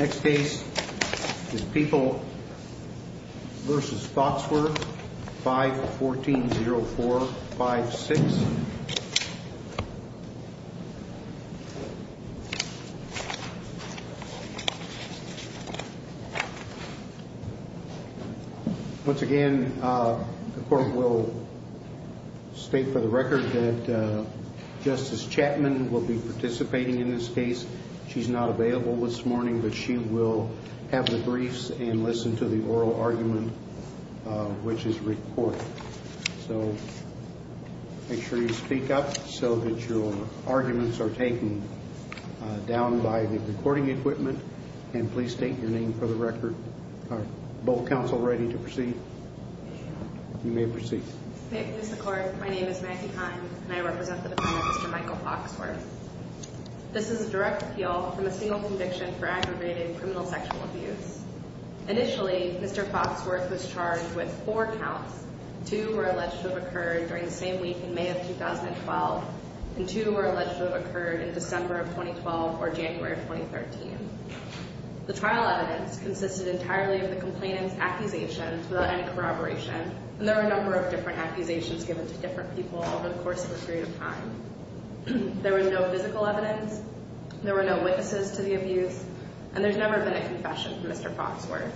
Next case is People v. Foxworth 514-0456. Once again, the court will state for the record that Justice Chapman will be having the briefs and listen to the oral argument, which is recorded. So make sure you speak up so that your arguments are taken down by the recording equipment. And please state your name for the record. Are both counsel ready to proceed? You may proceed. Thank you, Mr. Court. My name is Maggie Heim, and I represent the Defendant, Mr. Michael Foxworth. This is a direct appeal from a single conviction for aggravated criminal sexual abuse. Initially, Mr. Foxworth was charged with four counts. Two were alleged to have occurred during the same week in May of 2012, and two were alleged to have occurred in December of 2012 or January of 2013. The trial evidence consisted entirely of the complainant's accusations without any corroboration, and there were a number of different accusations given to different people over the course of a period of time. There was no physical evidence, there were no witnesses to the abuse, and there's never been a confession from Mr. Foxworth.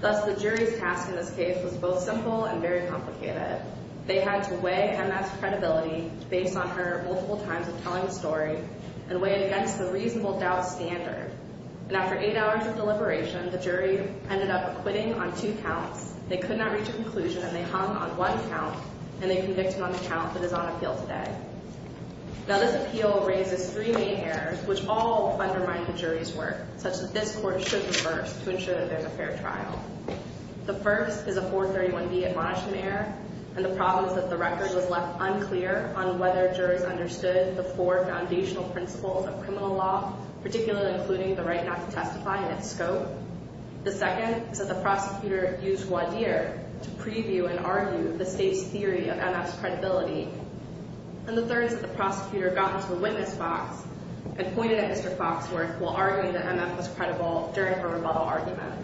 Thus, the jury's task in this case was both simple and very complicated. They had to weigh Kenneth's credibility based on her multiple times of telling the story and weigh it against the reasonable doubt standard. And after eight hours of deliberation, the jury ended up quitting on two counts. They could not reach a conclusion, and they hung on one count, and they convicted on the count that is on appeal today. Now, this appeal raises three main errors, which all undermine the jury's work, such that this court should reverse to ensure that there's a fair trial. The first is a 431B admonishment error, and the problem is that the record was left unclear on whether jurors understood the four foundational principles of criminal law, particularly including the right not to testify and its scope. The second is that the prosecutor used one year to preview and argue the state's theory of MF's credibility. And the third is that the prosecutor got into the witness box and pointed at Mr. Foxworth while arguing that MF was credible during her rebuttal argument.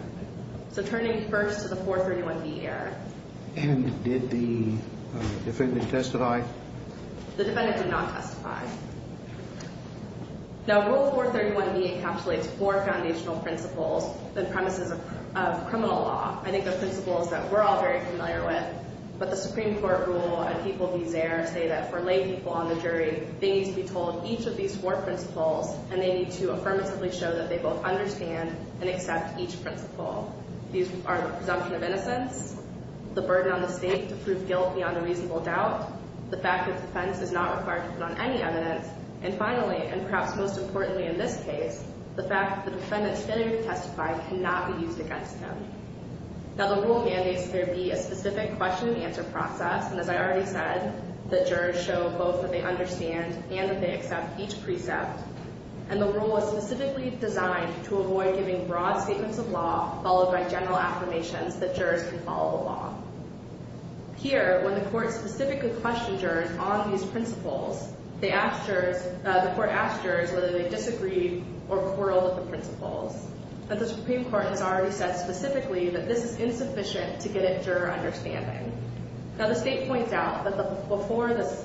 So turning first to the 431B error. The defendant did not testify. Now, Rule 431B encapsulates four foundational principles and premises of criminal law. I think the principles that we're all very familiar with, but the Supreme Court rule and people be there say that for lay people on the jury, they need to be told each of these four principles, and they need to affirmatively show that they both understand and accept each principle. These are the presumption of innocence, the burden on the state to prove guilt beyond a reasonable doubt, the fact that the defense does not require to put on any evidence, and finally, and perhaps most importantly in this case, the fact that the defendant's failure to testify cannot be used against them. Now, the rule mandates there be a specific question and answer process, and as I already said, that jurors show both that they understand and that they accept each precept. And the rule is specifically designed to avoid giving broad statements of law followed by general affirmations that jurors can follow the law. Here, when the court specifically questioned jurors on these principles, the court asked jurors whether they disagreed or quarreled with the principles, but the Supreme Court has already said specifically that this is insufficient to get a juror understanding. Now, the state points out that before the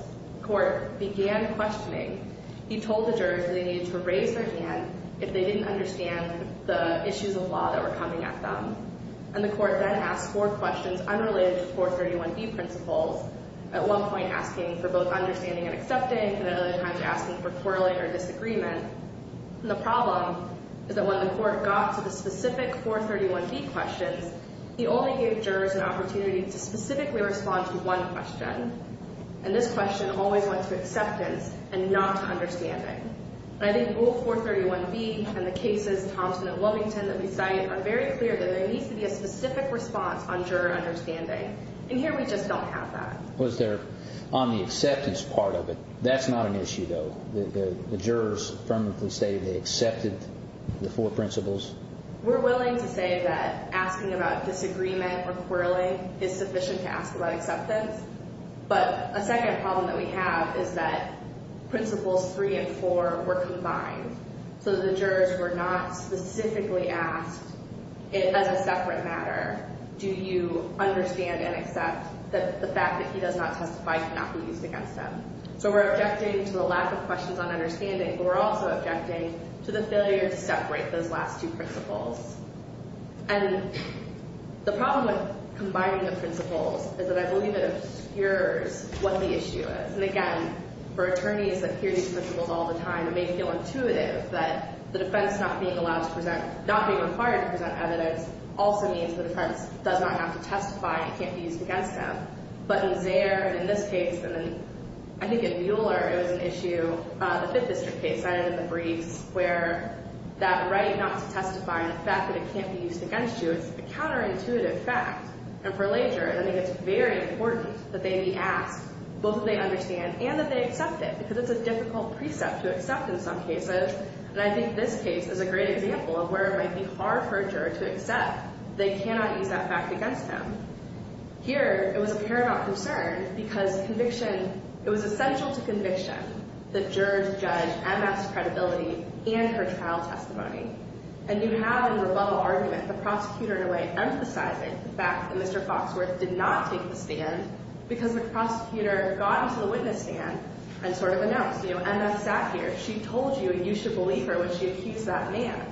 court began questioning, he told the jurors that they needed to raise their hand if they didn't understand the issues of law that were coming at them, and the court then asked four questions unrelated to 431B principles, at one point asking for both understanding and accepting, and at other times asking for quarreling or disagreement. And the problem is that when the court got to the specific 431B questions, he only gave jurors an opportunity to specifically respond to one question, and this question always went to acceptance and not to understanding. And I think both 431B and the cases, Thompson and Lovington, that we cite are very clear that there needs to be a specific response on juror understanding, and here we just don't have that. Was there, on the acceptance part of it, that's not an issue, though? The jurors affirmatively say they accepted the four principles? We're willing to say that asking about disagreement or quarreling is sufficient to ask about acceptance, but a second problem that we have is that principles 3 and 4 were combined, so the jurors were not specifically asked, as a separate matter, do you understand and accept that the fact that he does not testify cannot be used against him? So we're objecting to the lack of questions on understanding, but we're also objecting to the failure to separate those last two principles. And the problem with combining the principles is that I believe it obscures what the issue is. And again, for attorneys that hear these principles all the time it may feel intuitive that the defense not being allowed to present, not being required to present evidence, also means the defense does not have to testify, it can't be used against them. But in Zehr, and in this case, and I think in Mueller it was an issue, the Fifth District case I had in the briefs, where that right not to testify and the fact that it can't be used against you is a counterintuitive fact. And for Lager, I think it's very important that they be asked, both that they understand and that they accept it, because it's a difficult precept to accept in some cases. And I think this case is a great example of where it might be hard for a juror to accept they cannot use that fact against him. Here it was a paramount concern because conviction, it was essential to conviction that jurors judge MS credibility and her trial testimony. And you have in the rebuttal argument the prosecutor in a way emphasizing the fact that Mr. Foxworth did not take the stand because the prosecutor got into the witness stand and sort of announced, you know, MS sat here, she told you and you should believe her when she accused that man.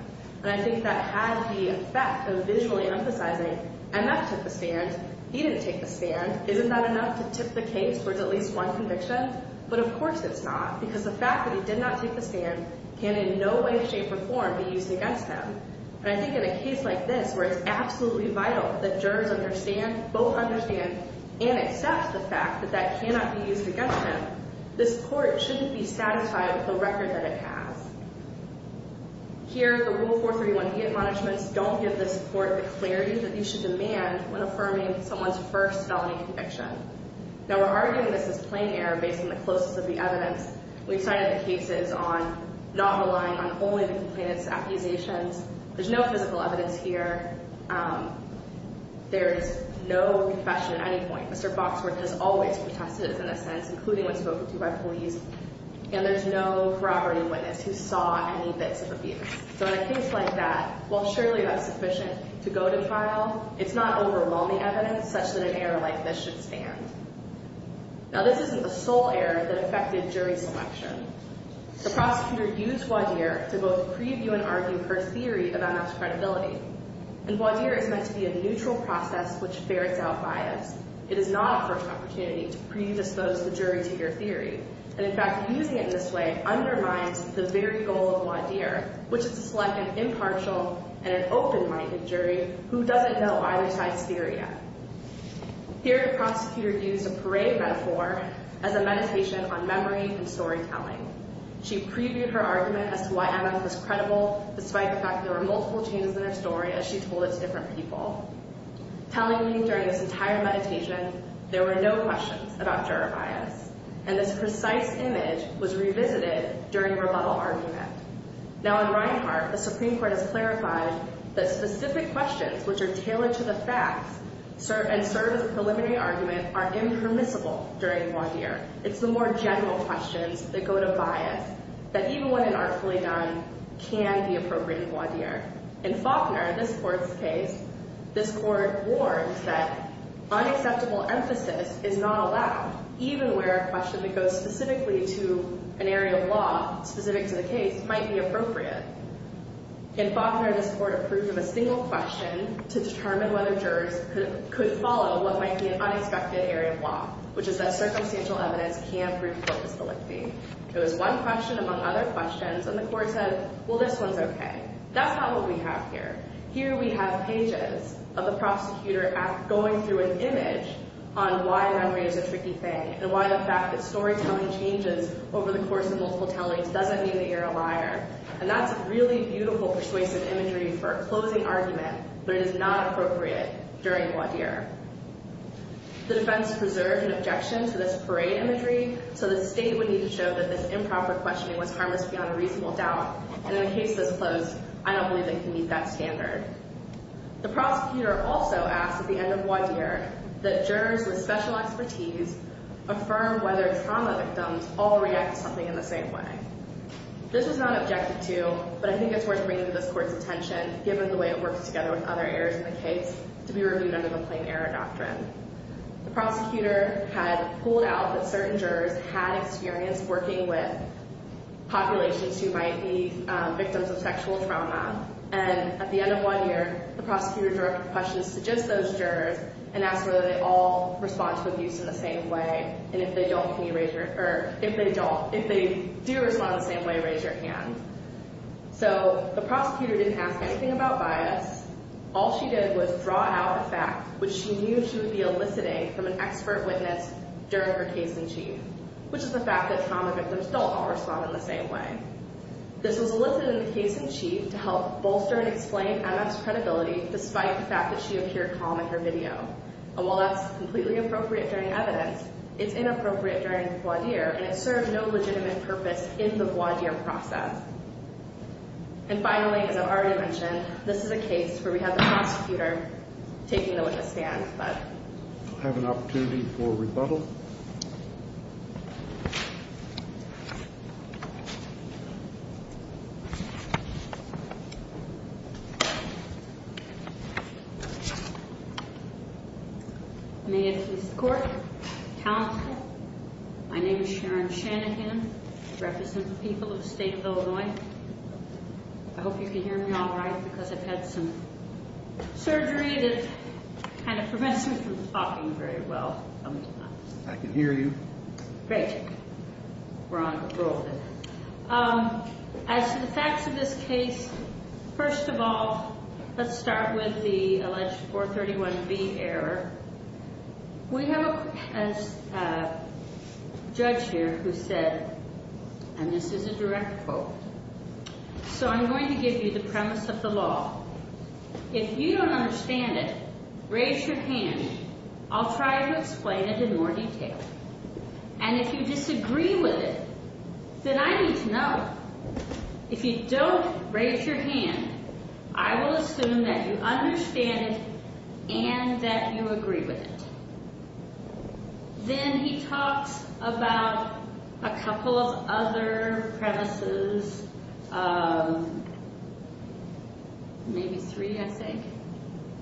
And I think that had the effect of visually emphasizing, MS took the stand, he didn't take the stand, isn't that enough to tip the case for at least one conviction? But of course it's not, because the fact that he did not take the stand can in no way, shape, or form be used against him. And I think in a case like this where it's absolutely vital that jurors understand, both understand and accept the fact that that cannot be used against him, this court shouldn't be satisfied with the record that it has. Here, the Rule 431B of managements don't give this court the clarity that you should demand when affirming someone's first felony conviction. Now we're arguing this is plain error based on the closest of the evidence. We've cited the cases on not relying on only the complainant's accusations. There's no physical evidence here. There is no confession at any point. Mr. Boxworth has always protested in this sense, including when spoken to by police. And there's no corroborating witness who saw any bits of abuse. So in a case like that, while surely that's sufficient to go to trial, it's not overwhelming evidence such that an error like this should stand. Now this isn't the sole error that affected jury selection. The prosecutor used Wadhir to both preview and argue her theory about MS credibility. And Wadhir is meant to be a neutral process which ferrets out bias. It is not a first opportunity to predispose the jury to your theory. And in fact, using it in this way undermines the very goal of Wadhir, which is to select an impartial and an open-minded jury who doesn't know either side's theory yet. Here, the prosecutor used a parade metaphor as a meditation on memory and storytelling. She previewed her argument as to why MS was credible, despite the fact there were multiple changes in her story as she told it to different people. Telling me during this entire meditation there were no questions about juror bias. And this precise image was revisited during her level argument. Now in Reinhart, the Supreme Court has clarified that specific questions which are tailored to the facts and serve as a preliminary argument are impermissible during Wadhir. It's the more general questions that go to bias, that even when inartfully done, can be appropriate in Wadhir. In Faulkner, this court's case, this court warned that unacceptable emphasis is not allowed, even where a question that goes specifically to an area of law, specific to the case, might be appropriate. In Faulkner, this court approved of a single question to determine whether jurors could follow what might be an unexpected area of law, which is that circumstantial evidence can prove purpose-delicty. It was one question among other questions, and the court said, well, this one's okay. That's not what we have here. Here we have pages of the prosecutor going through an image on why memory is a tricky thing and why the fact that storytelling changes over the course of multiple tellings doesn't mean that you're a liar. And that's really beautiful persuasive imagery for a closing argument, but it is not appropriate during Wadhir. The defense preserved an objection to this parade imagery, so the state would need to show that this improper questioning was harmless beyond a reasonable doubt, and in a case that's closed, I don't believe they can meet that standard. The prosecutor also asked at the end of Wadhir that jurors with special expertise affirm whether trauma victims all react to something in the same way. This was not objected to, but I think it's worth bringing to this court's attention, given the way it works together with other areas in the case, to be reviewed under the plain error doctrine. The prosecutor had pulled out that certain jurors had experience working with populations who might be victims of sexual trauma, and at the end of Wadhir, the prosecutor directed questions to just those jurors and asked whether they all respond to abuse in the same way, and if they do respond in the same way, raise your hand. So the prosecutor didn't ask anything about bias. All she did was draw out the fact which she knew she would be eliciting from an expert witness during her case-in-chief, which is the fact that trauma victims don't all respond in the same way. This was elicited in the case-in-chief to help bolster and explain MF's credibility, despite the fact that she appeared calm in her video, and while that's completely appropriate during evidence, it's inappropriate during Wadhir, and it served no legitimate purpose in the Wadhir process. And finally, as I've already mentioned, this is a case where we have the prosecutor taking the witness stand, but... I have an opportunity for rebuttal. May it please the court, counsel, my name is Sharon Shanahan, I represent the people of the state of Illinois. I hope you can hear me all right, because I've had some surgery that kind of prevents me from talking very well. I can hear you. Great. We're on a roll then. As to the facts of this case, first of all, let's start with the alleged 431B error. We have a judge here who said, and this is a direct quote, so I'm going to give you the premise of the law. If you don't understand it, raise your hand. I'll try to explain it in more detail. And if you disagree with it, then I need to know. If you don't raise your hand, I will assume that you understand it and that you agree with it. Then he talks about a couple of other premises, maybe three, I think,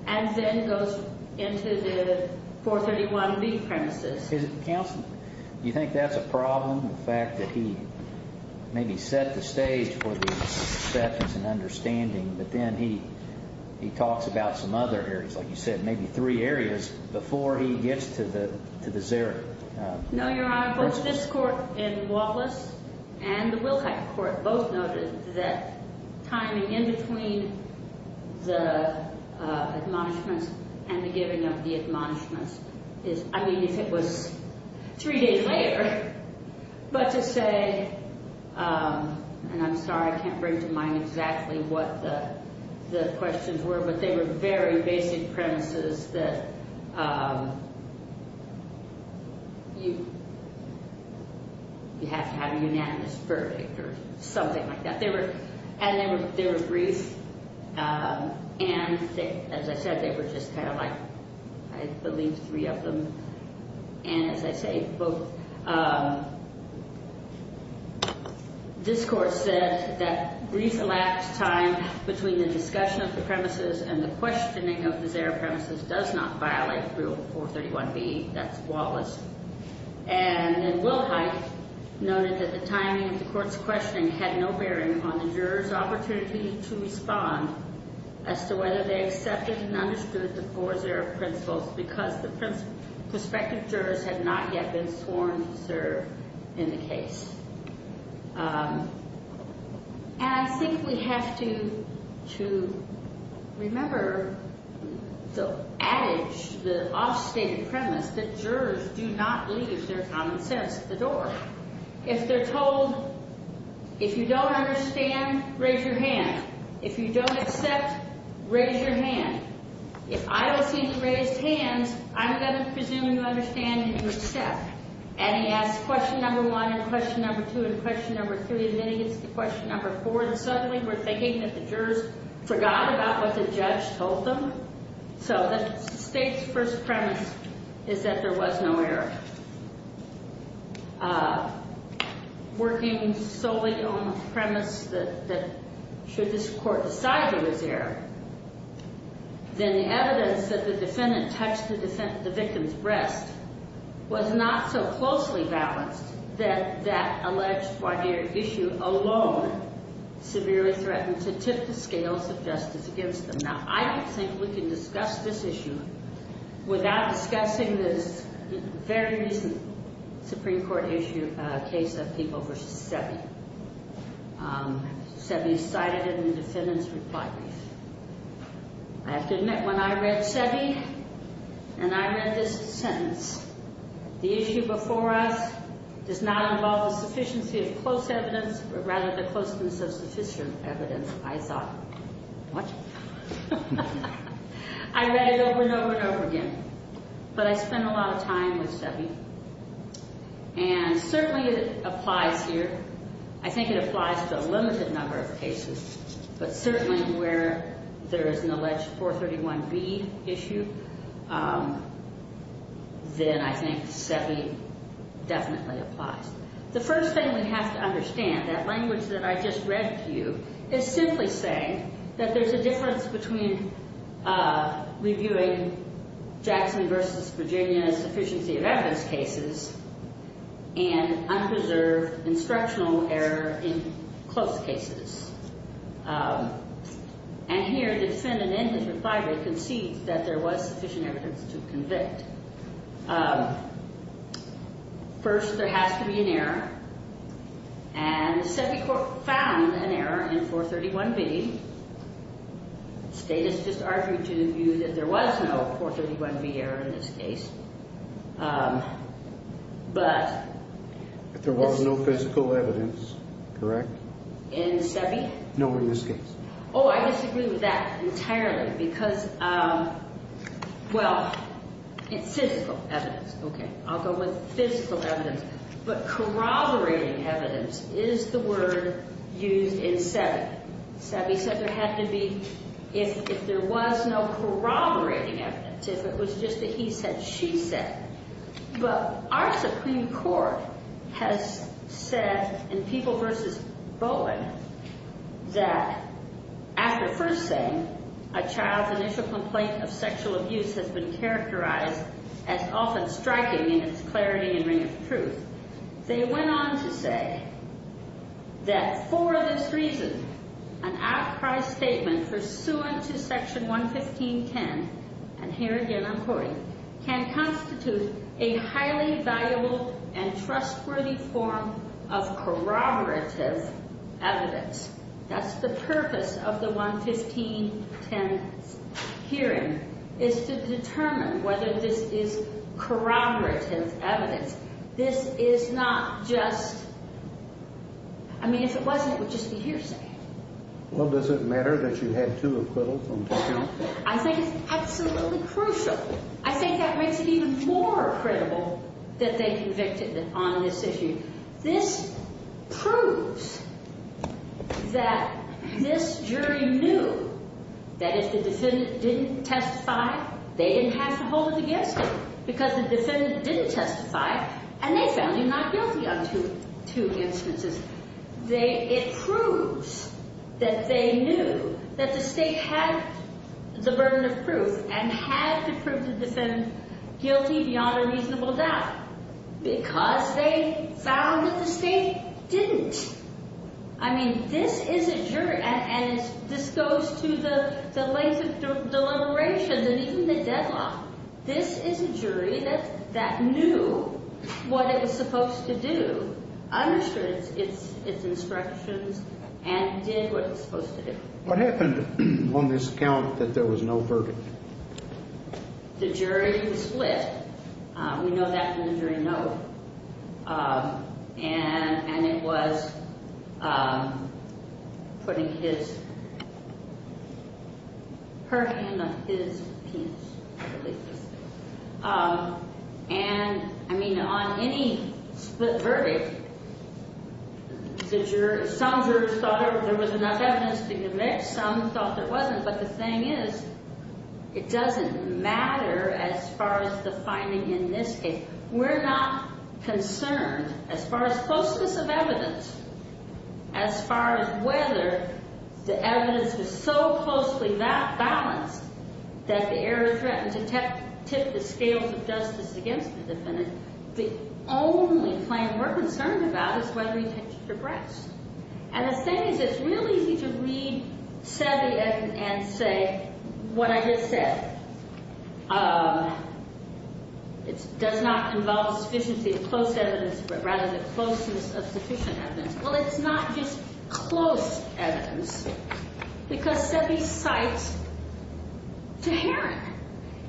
and then goes into the 431B premises. Counsel, do you think that's a problem, the fact that he maybe set the stage for the acceptance and understanding, but then he talks about some other areas, like you said, maybe three areas before he gets to the zero? No, Your Honor. Both this court in Wallace and the Wilcox court both noted that timing in between the admonishments and the giving of the admonishments is, I mean, if it was three days later, but to say, and I'm sorry, I can't bring to mind exactly what the questions were, but they were very basic premises that you have to have a unanimous verdict or something like that. And they were brief, and as I said, they were just kind of like, I believe, three of them. And as I say, both this court said that brief elapsed time between the discussion of the premises and the questioning of the zero premises does not violate Rule 431B. That's Wallace. And then Wilhite noted that the timing of the court's questioning had no bearing on the juror's opportunity to respond as to whether they accepted and understood the four zero principles because the prospective jurors had not yet been sworn to serve in the case. And I think we have to remember the adage, the off-stated premise, that jurors do not leave their common sense at the door. If they're told, if you don't understand, raise your hand. If you don't accept, raise your hand. If I don't seem to raise hands, I'm going to presume you understand and you accept. And he asked question number one and question number two and question number three, and then he gets to question number four, and suddenly we're thinking that the jurors forgot about what the judge told them. So the state's first premise is that there was no error. Working solely on the premise that should this court decide there was error, then the evidence that the defendant touched the victim's breast was not so closely balanced that that alleged barbier issue alone severely threatened to tip the scales of justice against them. Now, I don't think we can discuss this issue without discussing this very recent Supreme Court issue case of People v. Seve. Seve is cited in the defendant's reply brief. I have to admit, when I read Seve and I read this sentence, the issue before us does not involve the sufficiency of close evidence, but rather the closeness of sufficient evidence, I thought. What? I read it over and over and over again, but I spent a lot of time with Seve, and certainly it applies here. I think it applies to a limited number of cases, but certainly where there is an alleged 431B issue, then I think Seve definitely applies. The first thing we have to understand, that language that I just read to you, is simply saying that there's a difference between reviewing Jackson v. Virginia's sufficiency of evidence cases and unreserved instructional error in close cases. And here, the defendant in his reply brief concedes that there was sufficient evidence to convict. First, there has to be an error, and Seve found an error in 431B. State has just argued to the view that there was no 431B error in this case. But... But there was no physical evidence, correct? In Seve? No, in this case. Oh, I disagree with that entirely, because, well, it's physical evidence. Okay, I'll go with physical evidence. But corroborating evidence is the word used in Seve. Seve said there had to be, if there was no corroborating evidence, if it was just a he said, she said. But our Supreme Court has said in People v. Bowen, that after first saying a child's initial complaint of sexual abuse has been characterized as often striking in its clarity and ring of truth, they went on to say that for this reason, an outcry statement pursuant to Section 115.10, and here again I'm quoting, can constitute a highly valuable and trustworthy form of corroborative evidence. That's the purpose of the 115.10 hearing, is to determine whether this is corroborative evidence. This is not just... Well, does it matter that you had two acquittals on this case? I think it's absolutely crucial. I think that makes it even more credible that they convicted on this issue. This proves that this jury knew that if the defendant didn't testify, they didn't have to hold it against them, because the defendant didn't testify, and they found you not guilty on two instances. It proves that they knew that the state had the burden of proof and had the proof to defend guilty beyond a reasonable doubt, because they found that the state didn't. I mean, this is a jury, and this goes to the length of deliberations and even the deadline. This is a jury that knew what it was supposed to do, understood its instructions, and did what it was supposed to do. What happened on this account that there was no verdict? The jury split. We know that from the jury note, and it was putting her hand on his penis. And, I mean, on any split verdict, some jurors thought there was enough evidence to convict, some thought there wasn't, but the thing is, it doesn't matter as far as the finding in this case. We're not concerned as far as closeness of evidence, as far as whether the evidence was so closely balanced that the error threatened to tip the scales of justice against the defendant. The only claim we're concerned about is whether he touched her breast. And the thing is, it's real easy to read Sebi and say, what I just said, it does not involve sufficiency of close evidence, but rather the closeness of sufficient evidence. Well, it's not just close evidence, because Sebi cites Tuharin.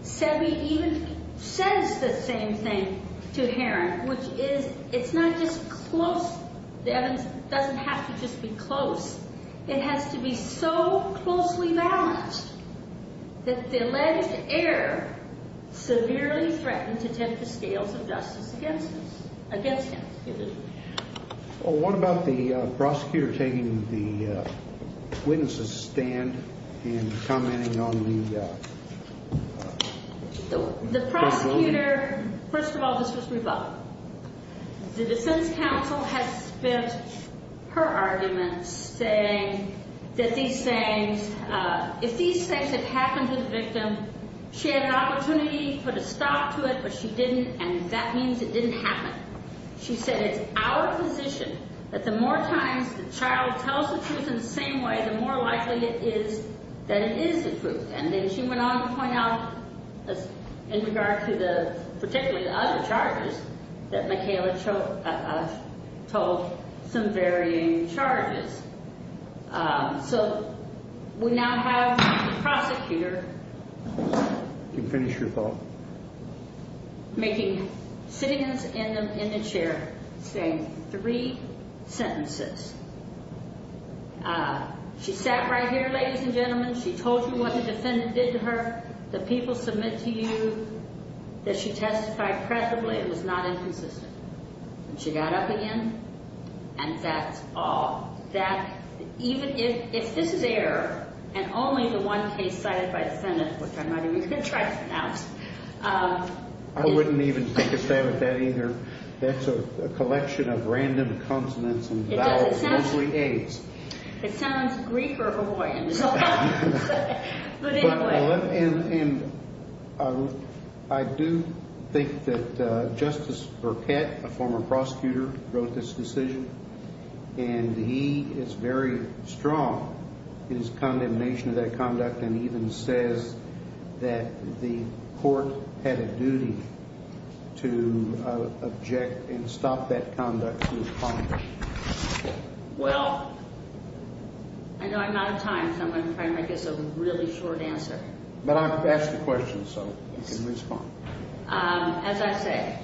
Sebi even says the same thing to Tuharin, which is, it's not just close. The evidence doesn't have to just be close. It has to be so closely balanced that the alleged error severely threatened to tip the scales of justice against him. Well, what about the prosecutor taking the witness's stand and commenting on the- The prosecutor, first of all, this was rebuttal. The defense counsel had spent her arguments saying that these things, if these things had happened to the victim, she had an opportunity to put a stop to it, but she didn't, and that means it didn't happen. She said, it's our position that the more times the child tells the truth in the same way, the more likely it is that it is the truth. And then she went on to point out, in regard to the, particularly the other charges, that Michaela told some varying charges. So we now have the prosecutor- You can finish your thought. Making, sitting in the chair, saying three sentences. She sat right here, ladies and gentlemen. She told you what the defendant did to her. The people submit to you that she testified presumably it was not inconsistent. And she got up again, and that's all. That, even if this is error, and only the one case cited by the defendant, which I might even try to pronounce- I wouldn't even think of that either. That's a collection of random consonants and vowels. It sounds Greek or Heroian. But anyway. And I do think that Justice Burkett, a former prosecutor, wrote this decision, and he is very strong in his condemnation of that conduct, and even says that the court had a duty to object and stop that conduct from being punished. Well, I know I'm out of time, so I'm going to try and make this a really short answer. But ask the question so we can respond. As I say,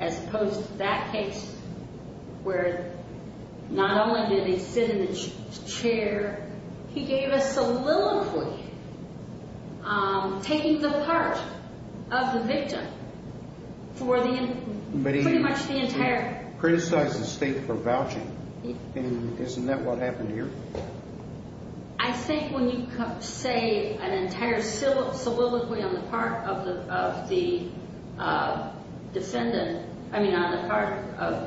as opposed to that case, where not only did he sit in the chair, he gave a soliloquy taking the part of the victim for pretty much the entire- But he criticized the state for vouching, and isn't that what happened here? I think when you say an entire soliloquy on the part of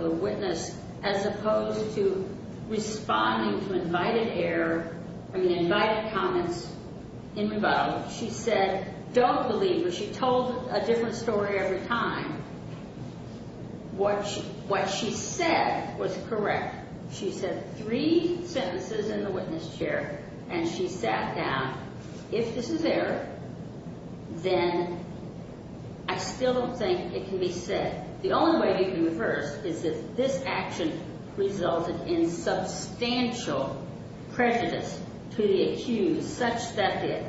the witness, as opposed to responding to invited comments in rebuttal, she said, don't believe her. She told a different story every time. What she said was correct. She said three sentences in the witness chair, and she sat down. If this is error, then I still don't think it can be said. The only way you can reverse is if this action resulted in substantial prejudice to the accused, such that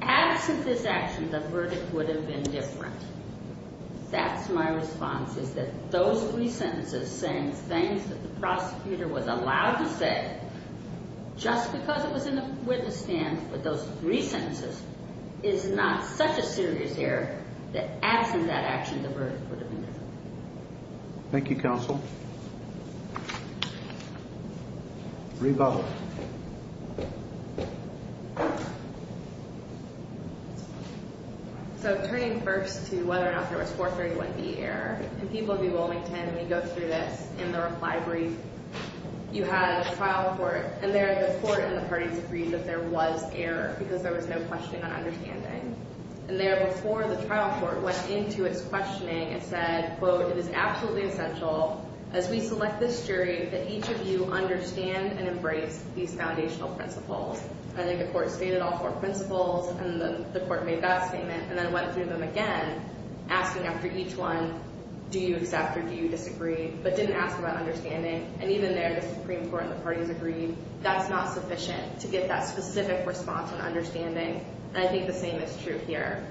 absent this action, the verdict would have been different. That's my response, is that those three sentences saying things that the prosecutor was allowed to say, just because it was in the witness stand with those three sentences, is not such a serious error that absent that action, the verdict would have been different. Thank you, counsel. Rebuttal. So turning first to whether or not there was forfeiting would be error. In people who do Wilmington, we go through this in the reply brief. You had a trial court, and the court and the parties agreed that there was error because there was no questioning or understanding. And there before the trial court went into its questioning and said, quote, it is absolutely essential as we select this jury that each of you understand and embrace these foundational principles. And then the court stated all four principles, and the court made that statement, and then went through them again, asking after each one, do you accept or do you disagree, but didn't ask about understanding. And even there, the Supreme Court and the parties agreed that's not sufficient to get that specific response and understanding, and I think the same is true here.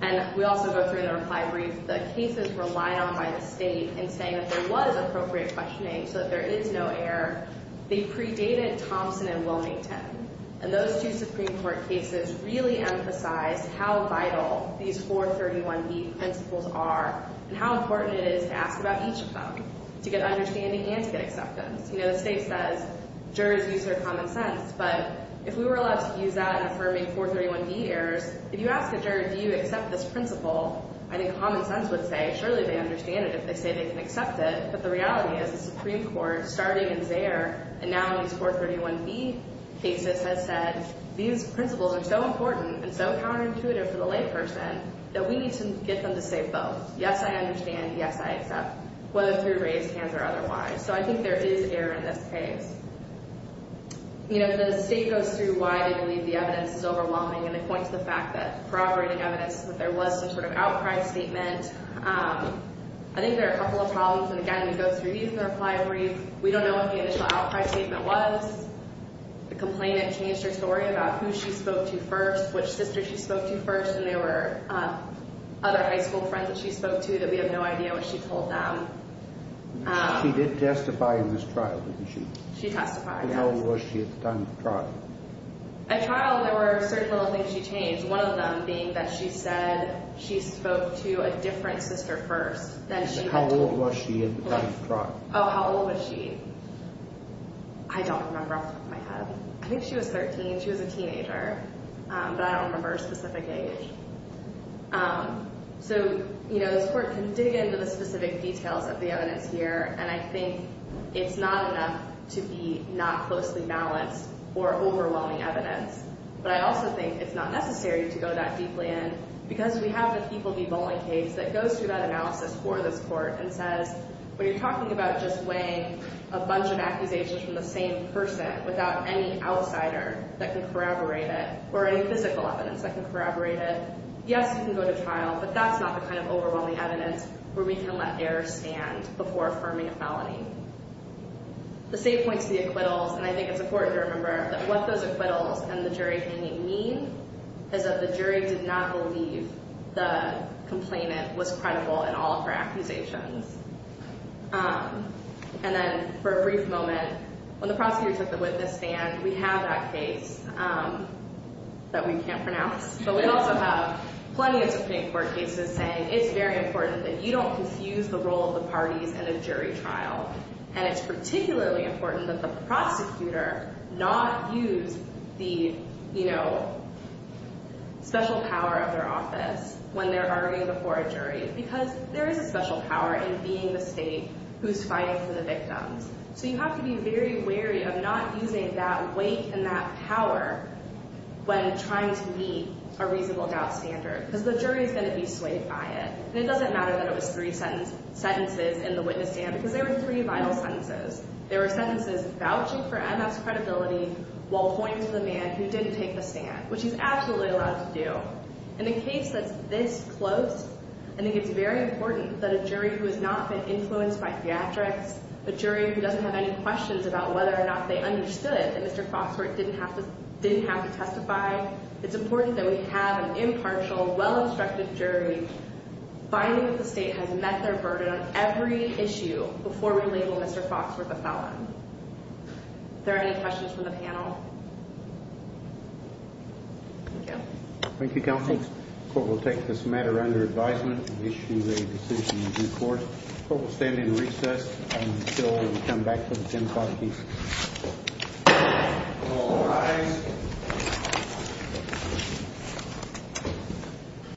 And we also go through in the reply brief the cases relied on by the state in saying that there was appropriate questioning so that there is no error. They predated Thompson and Wilmington, and those two Supreme Court cases really emphasized how vital these 431B principles are and how important it is to ask about each of them to get understanding and to get acceptance. You know, the state says jurors use their common sense, but if we were allowed to use that in affirming 431B errors, if you ask a juror do you accept this principle, I think common sense would say, surely they understand it if they say they can accept it, but the reality is the Supreme Court starting in Zaire and now in these 431B cases has said these principles are so important and so counterintuitive for the layperson that we need to get them to say both. Yes, I understand. Yes, I accept, whether through raised hands or otherwise. So I think there is error in this case. You know, the state goes through why they believe the evidence is overwhelming, and they point to the fact that corroborating evidence that there was some sort of outcry statement. I think there are a couple of problems, and again, we go through these in the reply brief. We don't know what the initial outcry statement was. The complainant changed her story about who she spoke to first, which sister she spoke to first, and there were other high school friends that she spoke to that we have no idea what she told them. She did testify in this trial, didn't she? She testified, yes. How old was she at the time of the trial? At trial, there were certain little things she changed, one of them being that she said she spoke to a different sister first than she had told. How old was she at the time of the trial? Oh, how old was she? I don't remember off the top of my head. I think she was 13. She was a teenager, but I don't remember a specific age. So, you know, this Court can dig into the specific details of the evidence here, and I think it's not enough to be not closely balanced or overwhelming evidence, but I also think it's not necessary to go that deeply in because we have a people-be-voting case that goes through that analysis for this Court and says, when you're talking about just weighing a bunch of accusations from the same person without any outsider that can corroborate it, or any physical evidence that can corroborate it, yes, you can go to trial, but that's not the kind of overwhelming evidence where we can let error stand before affirming a felony. The same points to the acquittals, and I think it's important to remember that what those acquittals and the jury hanging mean is that the jury did not believe the complainant was credible in all of her accusations. And then, for a brief moment, when the prosecutor took the witness stand, we have that case that we can't pronounce, but we also have plenty of Supreme Court cases saying it's very important that you don't confuse the role of the parties in a jury trial, and it's particularly important that the prosecutor not use the, you know, special power of their office when they're arguing before a jury because there is a special power in being the state who's fighting for the victims. So you have to be very wary of not using that weight and that power when trying to meet a reasonable doubt standard because the jury is going to be swayed by it. And it doesn't matter that it was three sentences in the witness stand because there were three vital sentences. There were sentences vouching for MS credibility while pointing to the man who didn't take the stand, which he's absolutely allowed to do. In a case that's this close, I think it's very important that a jury who has not been influenced by theatrics, a jury who doesn't have any questions about whether or not they understood that Mr. Foxworth didn't have to testify, it's important that we have an impartial, well-instructed jury finding that the state has met their burden on every issue before we label Mr. Foxworth a felon. Are there any questions from the panel? Thank you. Thank you, counsel. The court will take this matter under advisement and issue the decision in due course. The court will stand in recess until we come back for the 10-card case. All rise.